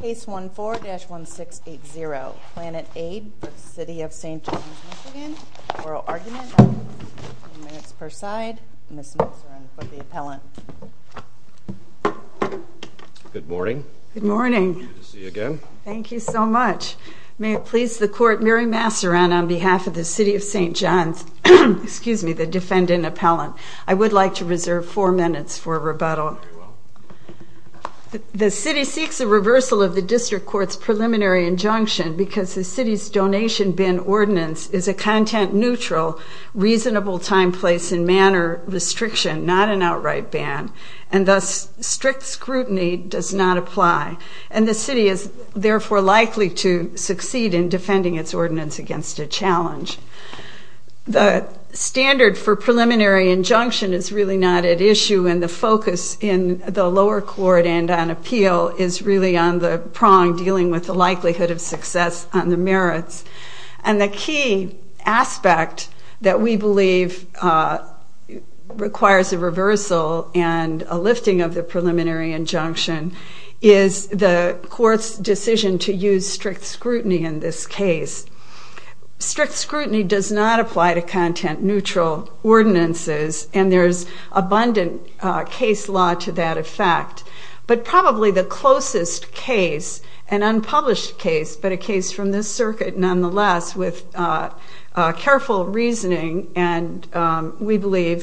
Case 14-1680, Planet Aid v. City of St. Johns, Michigan. Oral argument on 15 minutes per side. Ms. Masseran for the appellant. Good morning. Good morning. Good to see you again. Thank you so much. May it please the Court, Mary Masseran on behalf of the City of St. Johns, the defendant appellant. I would like to reserve four minutes for rebuttal. The City seeks a reversal of the District Court's preliminary injunction because the City's donation bin ordinance is a content-neutral, reasonable time, place, and manner restriction, not an outright ban, and thus strict scrutiny. The standard for preliminary injunction is really not at issue, and the focus in the lower court and on appeal is really on the prong dealing with the likelihood of success on the merits. And the key aspect that we believe requires a reversal and a lifting of the preliminary injunction is the Court's decision to use strict scrutiny in this case. Strict scrutiny does not apply to content-neutral ordinances, and there's abundant case law to that effect. But probably the closest case, an unpublished case, but a case from this circuit, nonetheless, with careful bench billboard versus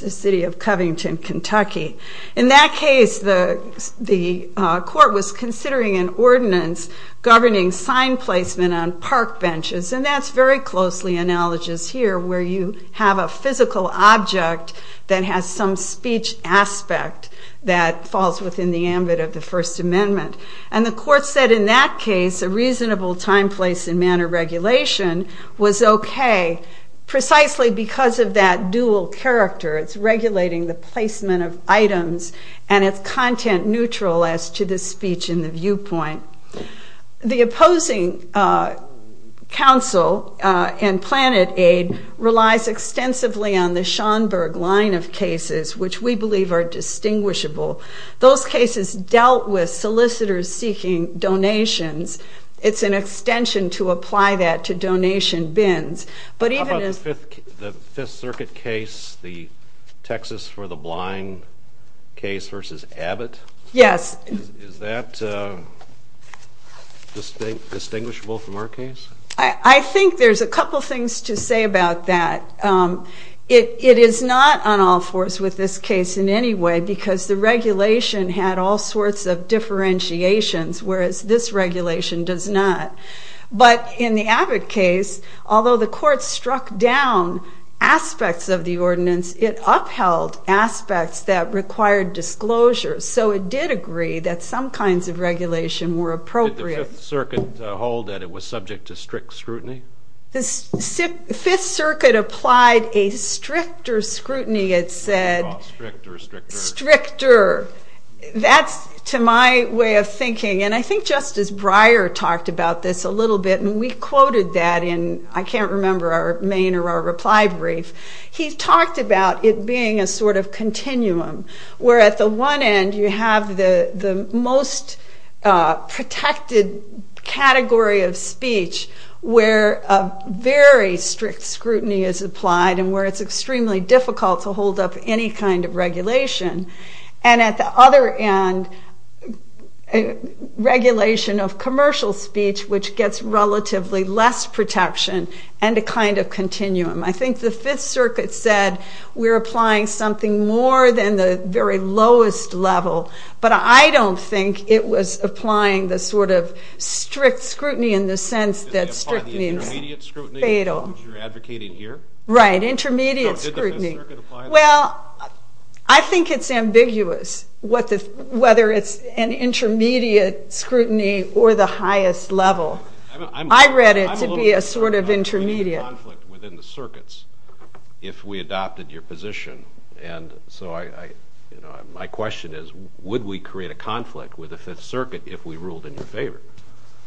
the City of Covington, Kentucky. In that case, the Court was considering an ordinance governing sign placement on park benches, and that's very closely analogous here, where you have a physical object that has some speech aspect that falls within the ambit of the First Amendment. And the Court said in that case, a reasonable time, place, and manner regulation was okay, precisely because of that dual character. It's regulating the placement of items, and it's content-neutral as to the speech and the viewpoint. The opposing counsel in PlanetAid relies extensively on the Schoenberg line of cases, which we believe are distinguishable. Those cases dealt with solicitors seeking donations. It's an extension to apply that to donation bins. But even as... How about the Fifth Circuit case, the Texas for the Blind case versus Abbott? Yes. Is that distinguishable from our case? I think there's a couple things to say about that. It is not on all fours with this case in any way, because the regulation had all sorts of differentiations, whereas this regulation does not. But in the Abbott case, although the Court struck down aspects of the ordinance, it upheld aspects that required disclosure. So it did agree that some kinds of regulation were appropriate. Did the Fifth Circuit hold that it was subject to strict scrutiny? The Fifth Circuit applied a stricter scrutiny, it said. Oh, strict or stricter? Stricter. That's to my way of thinking. And I think Justice Breyer talked about this a little bit, and we quoted that in, I can't remember, our main or our category of speech where a very strict scrutiny is applied and where it's extremely difficult to hold up any kind of regulation. And at the other end, regulation of commercial speech, which gets relatively less protection and a kind of continuum. I think the Fifth Circuit said we're applying something more than the very lowest level, but I don't think it was applying the sort of strict scrutiny in the sense that strict means fatal. Did they apply the intermediate scrutiny, which you're advocating here? Right, intermediate scrutiny. So did the Fifth Circuit apply that? Well, I think it's ambiguous whether it's an intermediate scrutiny or the highest level. I read it to be a sort of intermediate. Would there be a conflict within the circuits if we adopted your position? And so my question is, would we create a conflict with the Fifth Circuit if we ruled in your favor?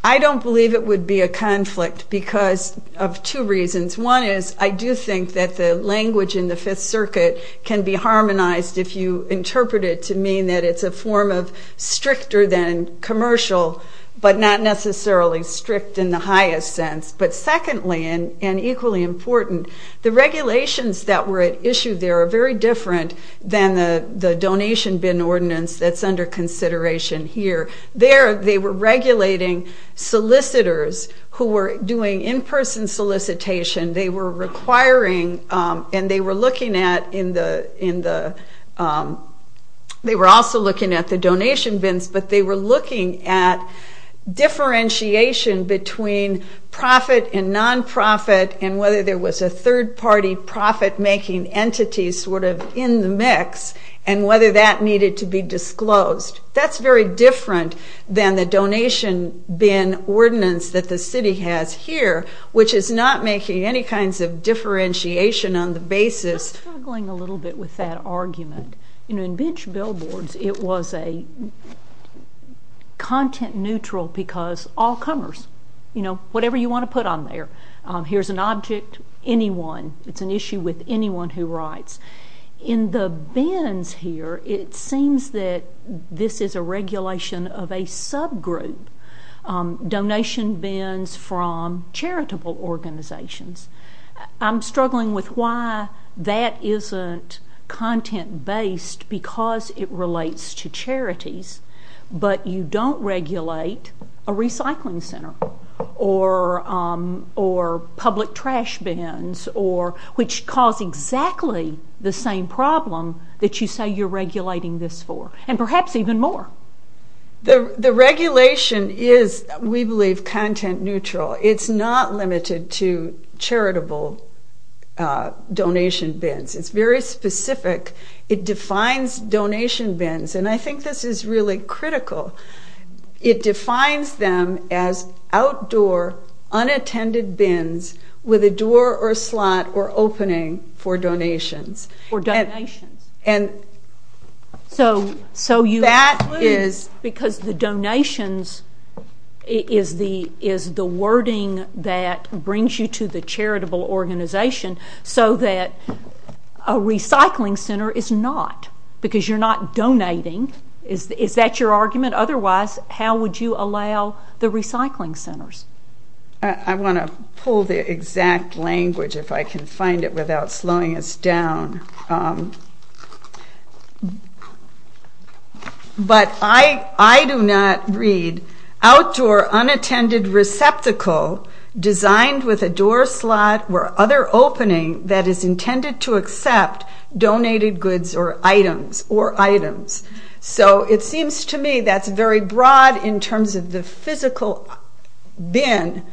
I don't believe it would be a conflict because of two reasons. One is, I do think that the language in the Fifth Circuit can be harmonized if you interpret it to mean that it's a form of stricter than commercial, but not necessarily strict in the highest sense. But secondly, and equally important, the regulations that were issued there are very different than the donation bin ordinance that's under consideration here. There they were regulating solicitors who were doing in-person solicitation. They were requiring, and they were also looking at the donation bins, but they were looking at differentiation between profit and non-profit and whether there was a third party profit-making entity sort of in the mix, and whether that needed to be disclosed. That's very different than the donation bin ordinance that the city has here, which is not making any kinds of differentiation on the basis. I'm struggling a little bit with that argument. In Bench Billboards, it was a content neutral because all comers, whatever you want to put on there. Here's an object, anyone. It's an issue with anyone who writes. In the bins here, it seems that this is a regulation of a subgroup, donation bins from charitable organizations. I'm struggling with why that isn't content-based because it relates to charities, but you don't regulate a recycling center or public trash bins, which cause exactly the same problem that you say you're regulating this for, and perhaps even more. The regulation is, we believe, content neutral. It's not limited to charitable donation bins. It's very specific. It defines donation bins, and I think this is really Because the donations is the wording that brings you to the charitable organization, so that a recycling center is not, because you're not donating. Is that your argument? Otherwise, how would you allow the recycling centers? I want to pull the exact language, if I can find it, without slowing us down. But I do not read, outdoor unattended receptacle designed with a door slot or other opening that is intended to accept donated goods or items. So it seems to me that's very broad in terms of the physical bin.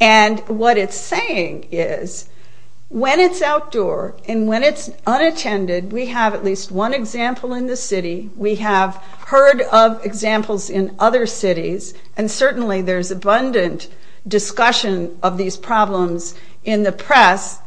And what it's saying is, when it's outdoor and when it's unattended, we have at least one example in the city. We have heard of examples in other cities, and certainly there's abundant discussion of these problems in the press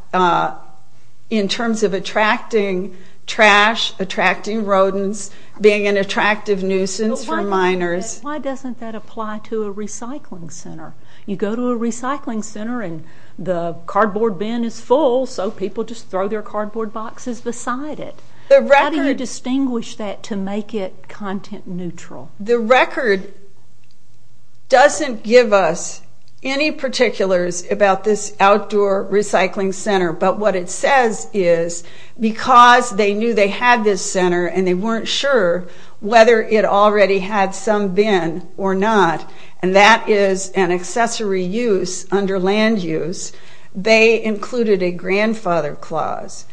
in terms of attracting trash, attracting rodents, being an attractive nuisance for minors. Why doesn't that apply to a recycling center? You go to a recycling center and the cardboard bin is full, so people just throw their cardboard boxes beside it. How do you distinguish that to make it content neutral? The record doesn't give us any particulars about this outdoor recycling center. But what it says is, because they knew they had this center and they weren't sure whether it already had some bin or not, and that is an accessory use under land use, they included a grandfather clause.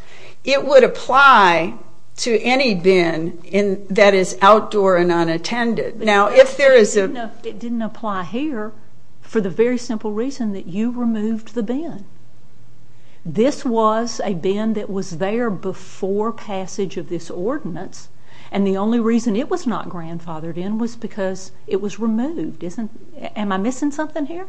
It would apply to any bin that is outdoor and unattended. It didn't apply here for the very simple reason that you removed the bin. This was a bin that was there before passage of this ordinance, and the only reason it was not grandfathered in was because it was removed. Am I missing something here?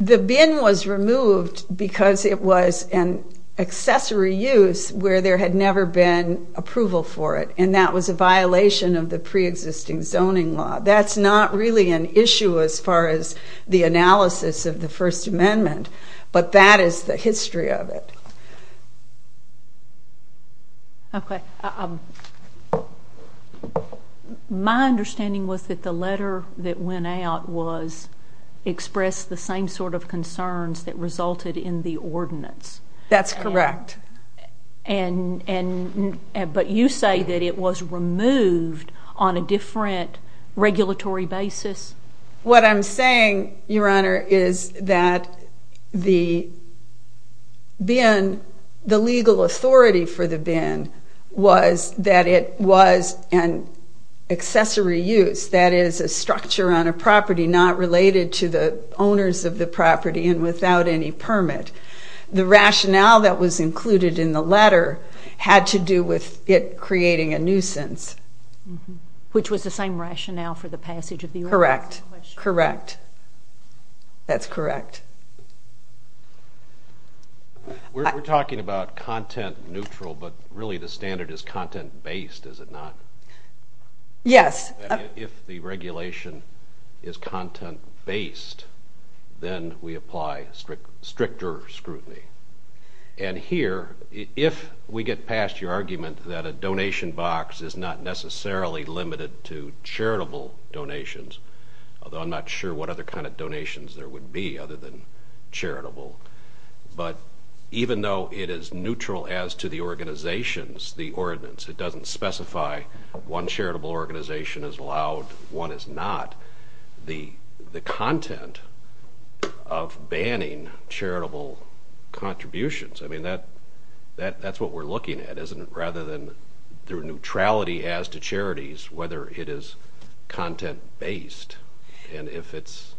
The bin was removed because it was an accessory use where there had never been approval for it, and that was a violation of the preexisting zoning law. That's not really an issue as far as the analysis of the First Amendment, but that is the history of it. My understanding was that the letter that went out expressed the same sort of concerns that resulted in the ordinance. That's correct. But you say that it was removed on a different regulatory basis? What I'm saying, Your Honor, is that the bin, the legal authority for the bin was that it was an accessory use, that is a structure on a property not related to the owners of the property and without any permit. The rationale that was included in the letter had to do with it creating a nuisance. Which was the same rationale for the passage of the ordinance? Correct. Correct. That's correct. We're talking about content neutral, but really the standard is content-based, is it not? Yes. If the regulation is content-based, then we apply stricter scrutiny. And here, if we get past your argument that a donation box is not necessarily limited to charitable donations, although I'm not sure what other kind of donations there would be other than charitable, but even though it is neutral as to the organizations, the ordinance, it doesn't specify one charitable organization is allowed, one is not, the content of banning charitable contributions. I mean, that's what we're looking at, isn't it? Rather than the neutrality as to charities, whether it is content-based and if it's...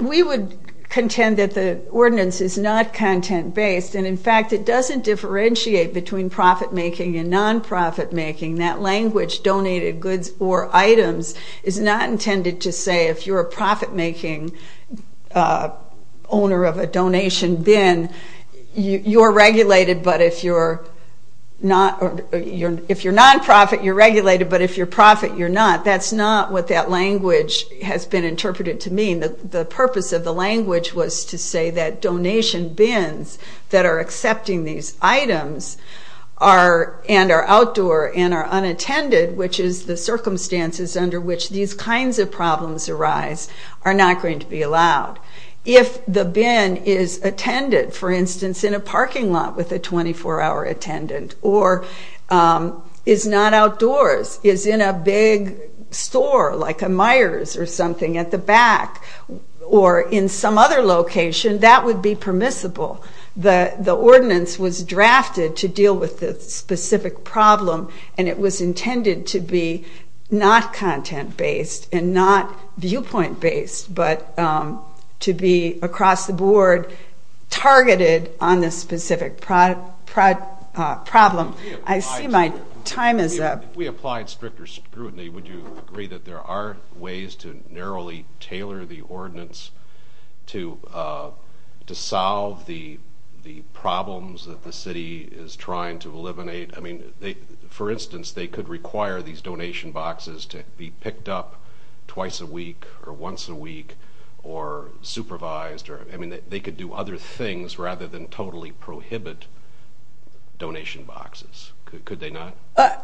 We would contend that the ordinance is not content-based, and in fact, it doesn't differentiate between profit-making and non-profit-making. That language, donated goods or items, is not intended to say if you're a profit-making owner of a donation bin, you're regulated, but if you're non-profit, you're regulated, but if you're profit, you're not. That's not what that language has been interpreted to mean. The purpose of the language was to say that donation bins that are accepting these items and are outdoor and are unattended, which is the circumstances under which these kinds of problems arise, are not going to be allowed. If the bin is attended, for instance, in a parking lot with a 24-hour attendant, or is not outdoors, is in a big store like a Meyers or something at the back, or in some other location, that would be permissible. The ordinance was drafted to deal with this specific problem, and it was intended to be not content-based and not viewpoint-based, but to be, across the board, targeted on this specific problem. If we applied stricter scrutiny, would you agree that there are ways to narrowly tailor the ordinance to solve the problems that the city is trying to eliminate? For instance, they could require these donation boxes to be picked up twice a week, or once a week, or supervised. They could do other things rather than totally prohibit donation boxes. Could they not?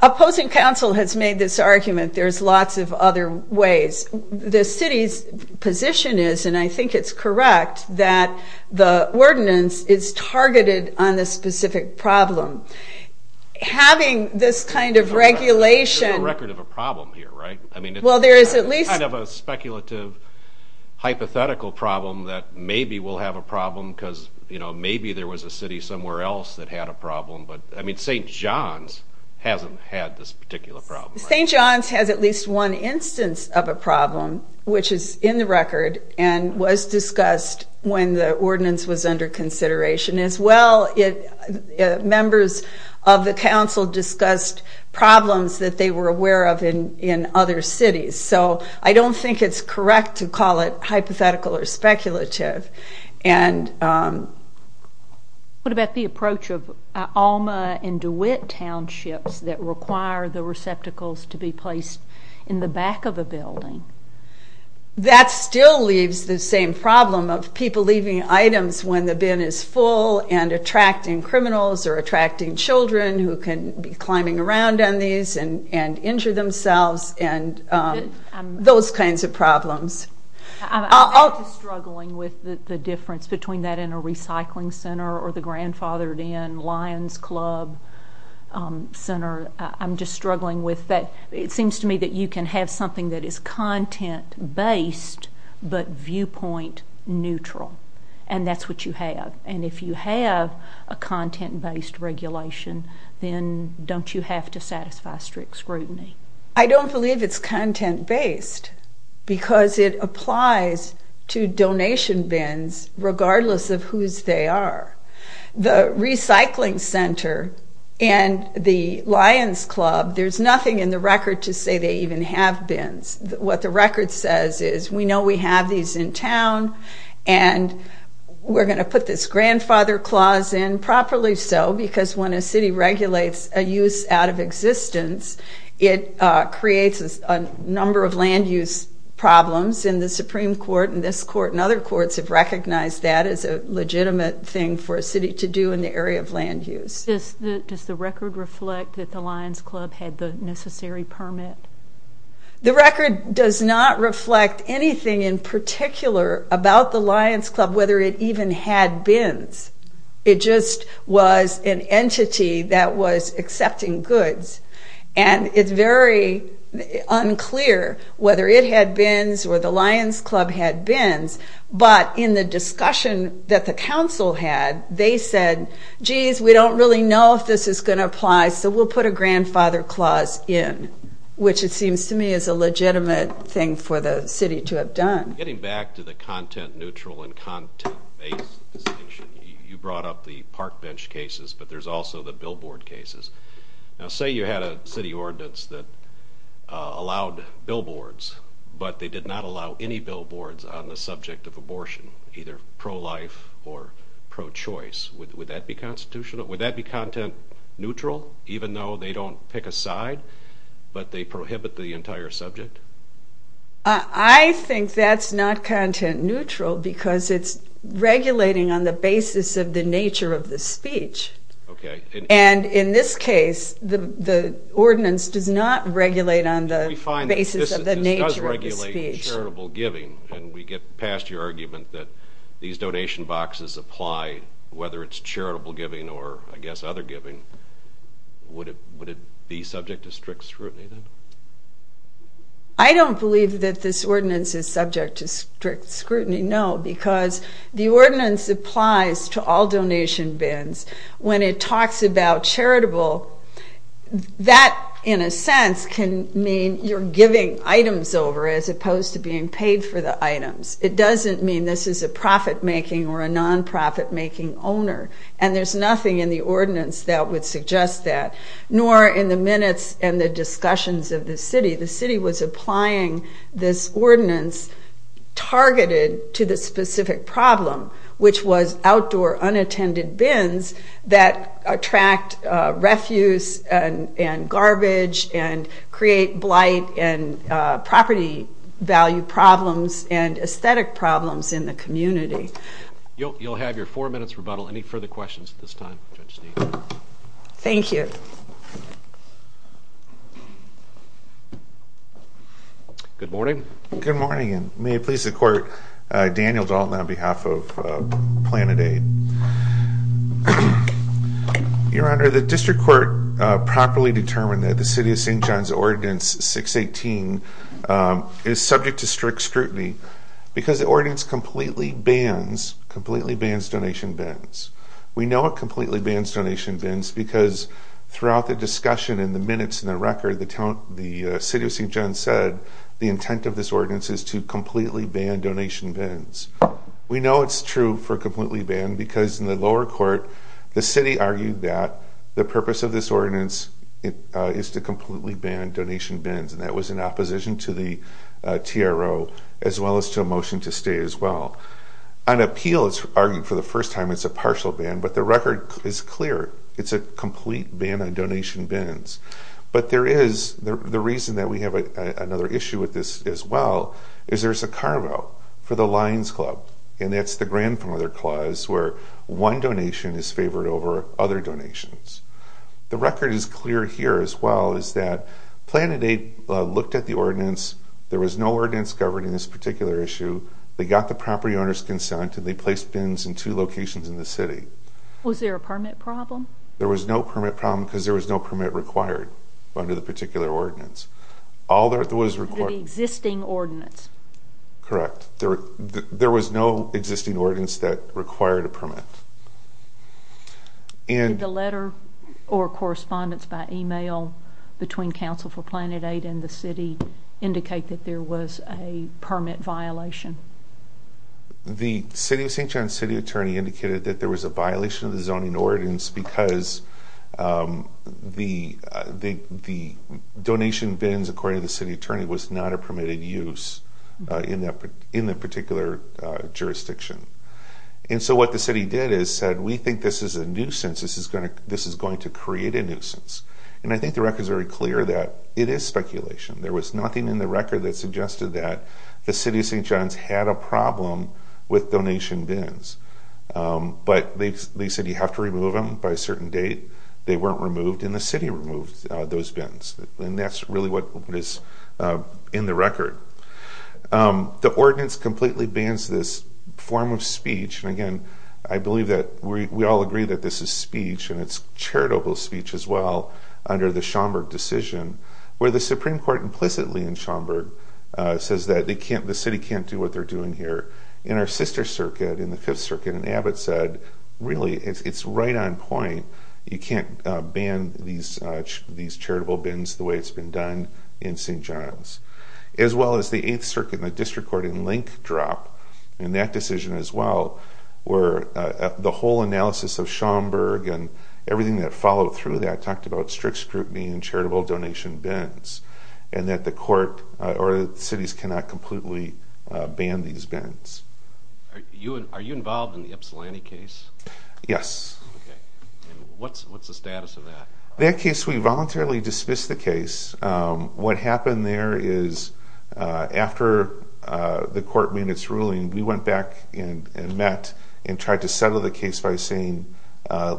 Opposing counsel has made this argument. There's lots of other ways. The city's position is, and I think it's correct, that the ordinance is targeted on this specific problem. Having this kind of regulation... There's no record of a problem here, right? It's kind of a speculative, hypothetical problem that maybe we'll have a problem, because maybe there was a city somewhere else that had a problem, but St. John's hasn't had this particular problem. St. John's has at least one instance of a problem, which is in the record, and was discussed when the ordinance was under consideration. As well, members of the council discussed problems that they were aware of in other cities, so I don't think it's correct to call it hypothetical or speculative. What about the approach of Alma and DeWitt townships that require the receptacles to be placed in the back of a building? That still leaves the same problem of people leaving items when the bin is full and attracting criminals or attracting children who can be climbing around on these and injure themselves, and those kinds of problems. I'm just struggling with the difference between that in a recycling center or the grandfathered-in Lions Club center. I'm just struggling with that. It seems to me that you can have something that is content-based but viewpoint-neutral, and that's what you have. And if you have a content-based regulation, then don't you have to satisfy strict scrutiny? I don't believe it's content-based, because it applies to donation bins regardless of whose they are. The recycling center and the Lions Club, there's nothing in the record to say they even have bins. What the record says is, we know we have these in town, and we're going to put this grandfather clause in properly so, because when a city regulates a use out of existence, it creates a number of land use problems. And the Supreme Court and this court and other courts have recognized that as a legitimate thing for a city to do in the area of land use. Does the record reflect that the Lions Club had the necessary permit? The record does not reflect anything in particular about the Lions Club, whether it even had bins. It just was an entity that was accepting goods. And it's very unclear whether it had bins or the Lions Club had bins, but in the discussion that the council had, they said, geez, we don't really know if this is going to apply, so we'll put a grandfather clause in, which it seems to me is a legitimate thing for the city to have done. Getting back to the content-neutral and content-based distinction, you brought up the park bench cases, but there's also the billboard cases. Now say you had a city ordinance that allowed billboards, but they did not allow any billboards on the subject of abortion, either pro-life or pro-choice. Would that be content-neutral, even though they don't pick a side, but they prohibit the entire subject? I think that's not content-neutral because it's regulating on the basis of the nature of the speech. And in this case, the ordinance does not regulate on the basis of the nature of the speech. And we get past your argument that these donation boxes apply, whether it's charitable giving or, I guess, other giving. Would it be subject to strict scrutiny, then? I don't believe that this ordinance is subject to strict scrutiny, no, because the ordinance applies to all donation bins. When it talks about charitable, that, in a sense, can mean you're giving items over as opposed to being paid for the items. It doesn't mean this is a profit-making or a non-profit-making owner, and there's nothing in the ordinance that would suggest that, nor in the minutes and the discussions of the city. The city was applying this ordinance targeted to the specific problem, which was outdoor unattended bins that attract refuse and garbage and create blight and property value problems and aesthetic problems in the community. You'll have your four minutes rebuttal. Any further questions at this time, Judge Steele? Thank you. Good morning. Good morning, and may it please the Court, Daniel Dalton on behalf of Planet Aid. Your Honor, the District Court properly determined that the City of St. John's Ordinance 618 is subject to strict scrutiny because the ordinance completely bans donation bins. We know it completely bans donation bins because throughout the discussion and the minutes and the record, the City of St. John's said the intent of this ordinance is to completely ban donation bins. We know it's true for completely ban because in the lower court, the City argued that the purpose of this ordinance is to completely ban donation bins, and that was in opposition to the TRO as well as to a motion to stay as well. On appeal, it's argued for the first time it's a partial ban, but the record is clear. It's a complete ban on donation bins. But there is the reason that we have another issue with this as well is there's a car vote for the Lions Club, and that's the grandfather clause where one donation is favored over other donations. The record is clear here as well is that Planet Aid looked at the ordinance. There was no ordinance covered in this particular issue. They got the property owner's consent, and they placed bins in two locations in the city. Was there a permit problem? There was no permit problem because there was no permit required under the particular ordinance. All that was required... The existing ordinance. Correct. There was no existing ordinance that required a permit. Did the letter or correspondence by email between Council for Planet Aid and the City indicate that there was a permit violation? The City of St. John's city attorney indicated that there was a violation of the zoning ordinance because the donation bins, according to the city attorney, was not a permitted use in that particular jurisdiction. And so what the city did is said, we think this is a nuisance. This is going to create a nuisance. And I think the record is very clear that it is speculation. There was nothing in the record that suggested that the City of St. John's had a problem with donation bins. But they said you have to remove them by a certain date. They weren't removed, and the city removed those bins. And that's really what is in the record. The ordinance completely bans this form of speech. And again, I believe that we all agree that this is speech, and it's charitable speech as well under the Schomburg decision. Where the Supreme Court implicitly in Schomburg says that the city can't do what they're doing here. In our sister circuit, in the Fifth Circuit, Abbott said, really, it's right on point. You can't ban these charitable bins the way it's been done in St. John's. As well as the Eighth Circuit and the district court in Link drop in that decision as well. Where the whole analysis of Schomburg and everything that followed through that talked about strict scrutiny and charitable donation bins. And that the court or the cities cannot completely ban these bins. Are you involved in the Ypsilanti case? Yes. And what's the status of that? That case, we voluntarily dismissed the case. What happened there is after the court made its ruling, we went back and met and tried to settle the case by saying,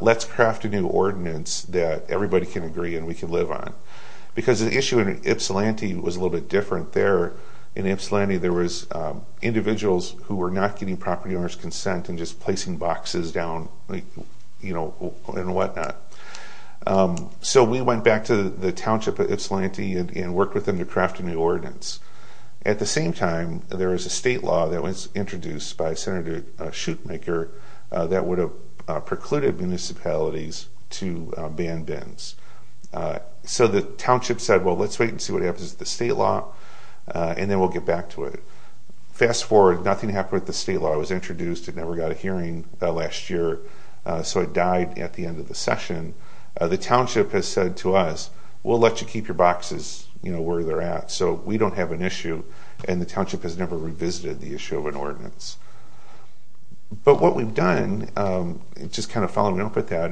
let's craft a new ordinance that everybody can agree and we can live on. Because the issue in Ypsilanti was a little bit different there. In Ypsilanti, there was individuals who were not getting property owners consent and just placing boxes down and whatnot. So we went back to the township of Ypsilanti and worked with them to craft a new ordinance. At the same time, there was a state law that was introduced by Senator Shoemaker that would have precluded municipalities to ban bins. So the township said, well, let's wait and see what happens to the state law and then we'll get back to it. Fast forward, nothing happened with the state law. It never got a hearing last year, so it died at the end of the session. The township has said to us, we'll let you keep your boxes where they're at. So we don't have an issue and the township has never revisited the issue of an ordinance. But what we've done, just kind of following up with that,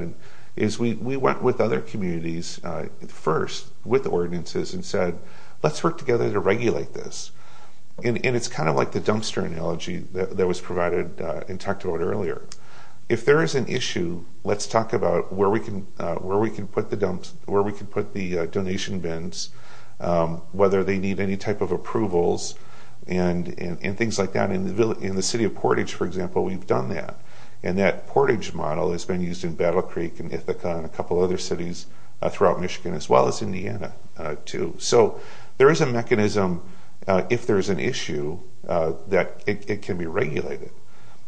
is we went with other communities first with ordinances and said, let's work together to regulate this. And it's kind of like the dumpster analogy that was provided and talked about earlier. If there is an issue, let's talk about where we can put the donation bins, whether they need any type of approvals and things like that. In the city of Portage, for example, we've done that. And that Portage model has been used in Battle Creek and Ithaca and a couple other cities throughout Michigan as well as Indiana too. So there is a mechanism if there is an issue that it can be regulated.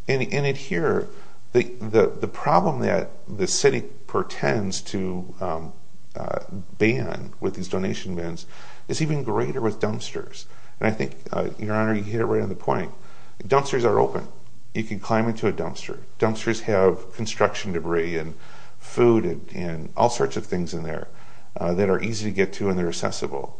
And here, the problem that the city portends to ban with these donation bins is even greater with dumpsters. And I think, Your Honor, you hit it right on the point. Dumpsters are open. You can climb into a dumpster. Dumpsters have construction debris and food and all sorts of things in there that are easy to get to and they're accessible.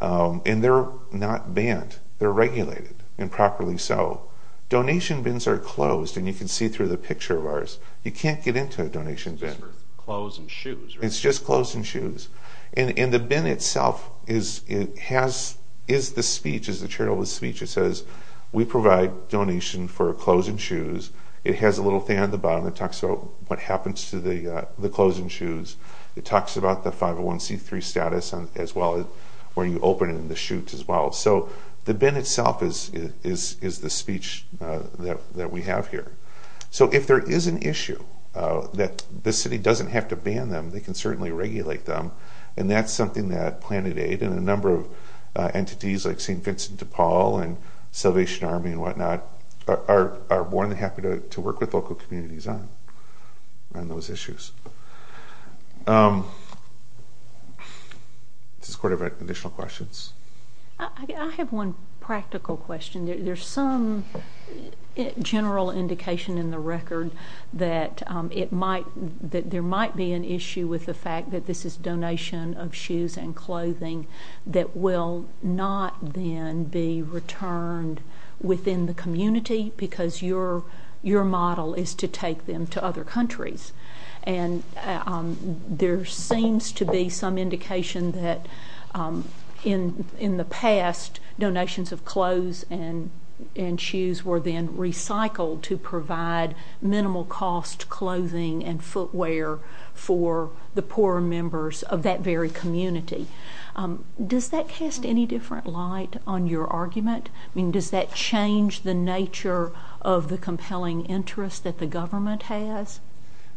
And they're not banned. They're regulated and properly so. Donation bins are closed, and you can see through the picture of ours. You can't get into a donation bin. It's just for clothes and shoes, right? It's just clothes and shoes. And the bin itself is the speech, is the charitable speech. It says, we provide donation for clothes and shoes. It has a little thing on the bottom that talks about what happens to the clothes and shoes. It talks about the 501c3 status as well as where you open it and the chutes as well. So the bin itself is the speech that we have here. So if there is an issue that the city doesn't have to ban them, they can certainly regulate them. And that's something that Planet Aid and a number of entities like St. Vincent de Paul and Salvation Army and whatnot are more than happy to work with local communities on those issues. Does the court have any additional questions? I have one practical question. There's some general indication in the record that there might be an issue with the fact that this is donation of shoes and clothing that will not then be returned within the community because your model is to take them to other countries. And there seems to be some indication that in the past, donations of clothes and shoes were then recycled to provide minimal cost clothing and footwear for the poor members of that very community. Does that cast any different light on your argument? I mean, does that change the nature of the compelling interest that the government has?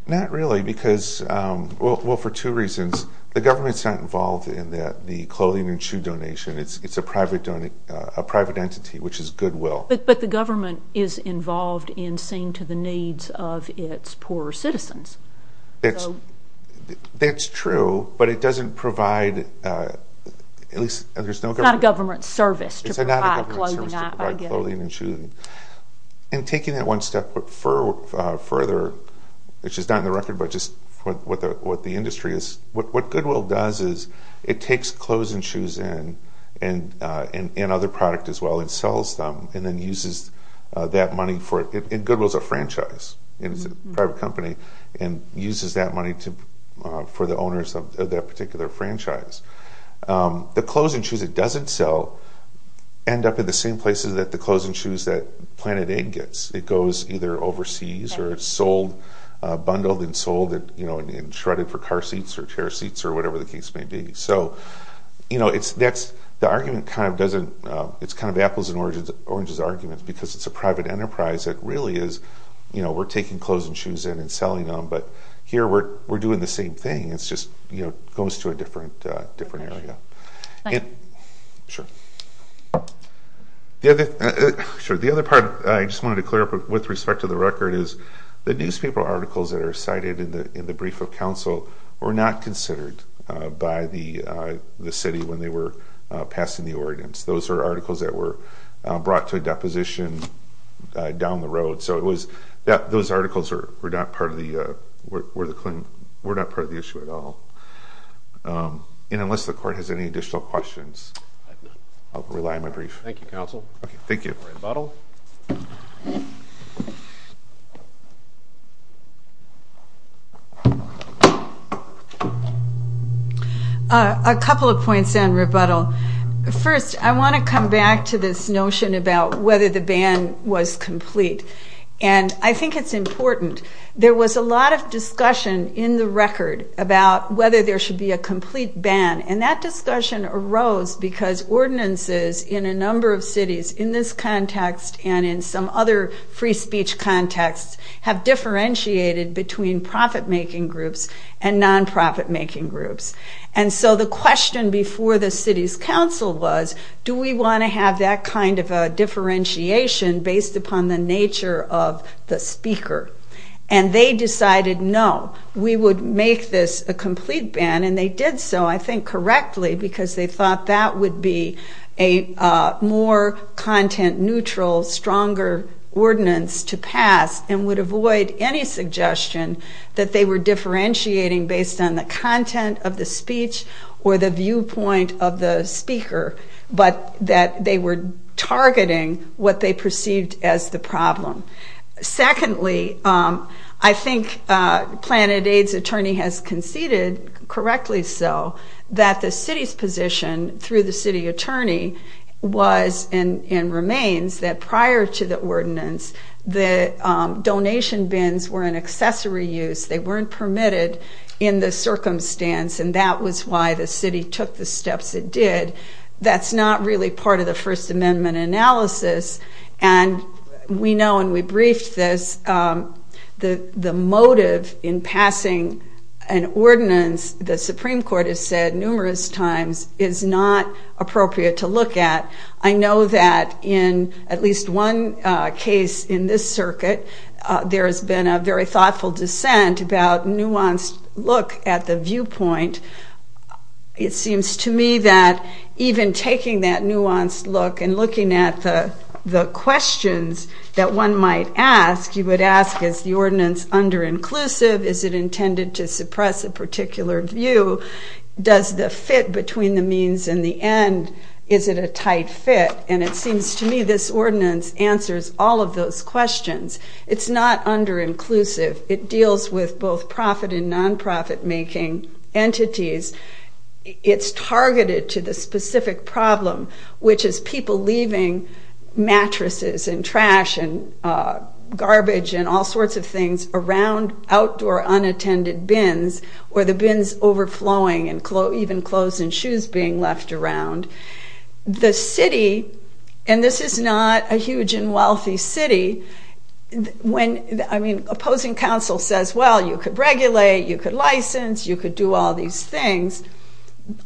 Not really because, well, for two reasons. The government's not involved in the clothing and shoe donation. It's a private entity, which is goodwill. But the government is involved in seeing to the needs of its poorer citizens. That's true, but it doesn't provide, at least there's no government. It's not a government service to provide clothing and shoes. And taking that one step further, which is not in the record, but just what the industry is, what goodwill does is it takes clothes and shoes in and other product as well and sells them and then uses that money for it. And goodwill's a franchise. It's a private company and uses that money for the owners of that particular franchise. The clothes and shoes it doesn't sell end up in the same places that the clothes and shoes that Planet Aid gets. It goes either overseas or it's sold, bundled and sold and shredded for car seats or chair seats or whatever the case may be. So, you know, the argument kind of doesn't, it's kind of apples and oranges arguments because it's a private enterprise. It really is, you know, we're taking clothes and shoes in and selling them, but here we're doing the same thing. It's just, you know, it goes to a different area. Sure. The other part I just wanted to clear up with respect to the record is the newspaper articles that are cited in the brief of counsel were not considered by the city when they were passing the ordinance. Those are articles that were brought to a deposition down the road. Those articles were not part of the issue at all. And unless the court has any additional questions, I'll rely on my brief. Thank you, counsel. Thank you. Rebuttal. A couple of points on rebuttal. First, I want to come back to this notion about whether the ban was complete. And I think it's important. There was a lot of discussion in the record about whether there should be a complete ban, and that discussion arose because ordinances in a number of cities in this context and in some other free speech contexts have differentiated between profit-making groups and non-profit-making groups. And so the question before the city's counsel was, do we want to have that kind of a differentiation based upon the nature of the speaker? And they decided, no, we would make this a complete ban. And they did so, I think, correctly, because they thought that would be a more content-neutral, stronger ordinance to pass and would avoid any suggestion that they were differentiating based on the content of the speech or the viewpoint of the speaker, but that they were targeting what they perceived as the problem. Secondly, I think Planet Aid's attorney has conceded, correctly so, that the city's position through the city attorney was and remains that prior to the ordinance the donation bins were an accessory use. They weren't permitted in the circumstance, and that was why the city took the steps it did. That's not really part of the First Amendment analysis. And we know, and we briefed this, the motive in passing an ordinance, the Supreme Court has said numerous times, is not appropriate to look at. I know that in at least one case in this circuit, there has been a very thoughtful dissent about nuanced look at the viewpoint. It seems to me that even taking that nuanced look and looking at the questions that one might ask, you would ask, is the ordinance under-inclusive? Is it intended to suppress a particular view? Does the fit between the means and the end? Is it a tight fit? And it seems to me this ordinance answers all of those questions. It's not under-inclusive. It deals with both profit and non-profit making entities. It's targeted to the specific problem, which is people leaving mattresses and trash and garbage and all sorts of things around outdoor unattended bins, or the bins overflowing and even clothes and shoes being left around. The city, and this is not a huge and wealthy city, when, I mean, opposing counsel says, well, you could regulate, you could license, you could do all these things,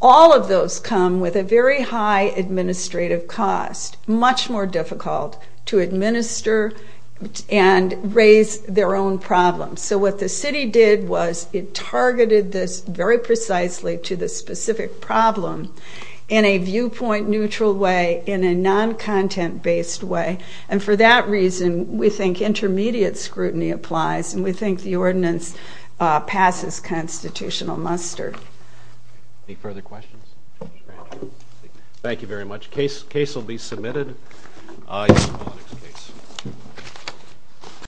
all of those come with a very high administrative cost, much more difficult to administer and raise their own problems. So what the city did was it targeted this very precisely to the specific problem in a viewpoint-neutral way, in a non-content-based way, and for that reason we think intermediate scrutiny applies and we think the ordinance passes constitutional muster. Any further questions? Thank you very much. Case will be submitted.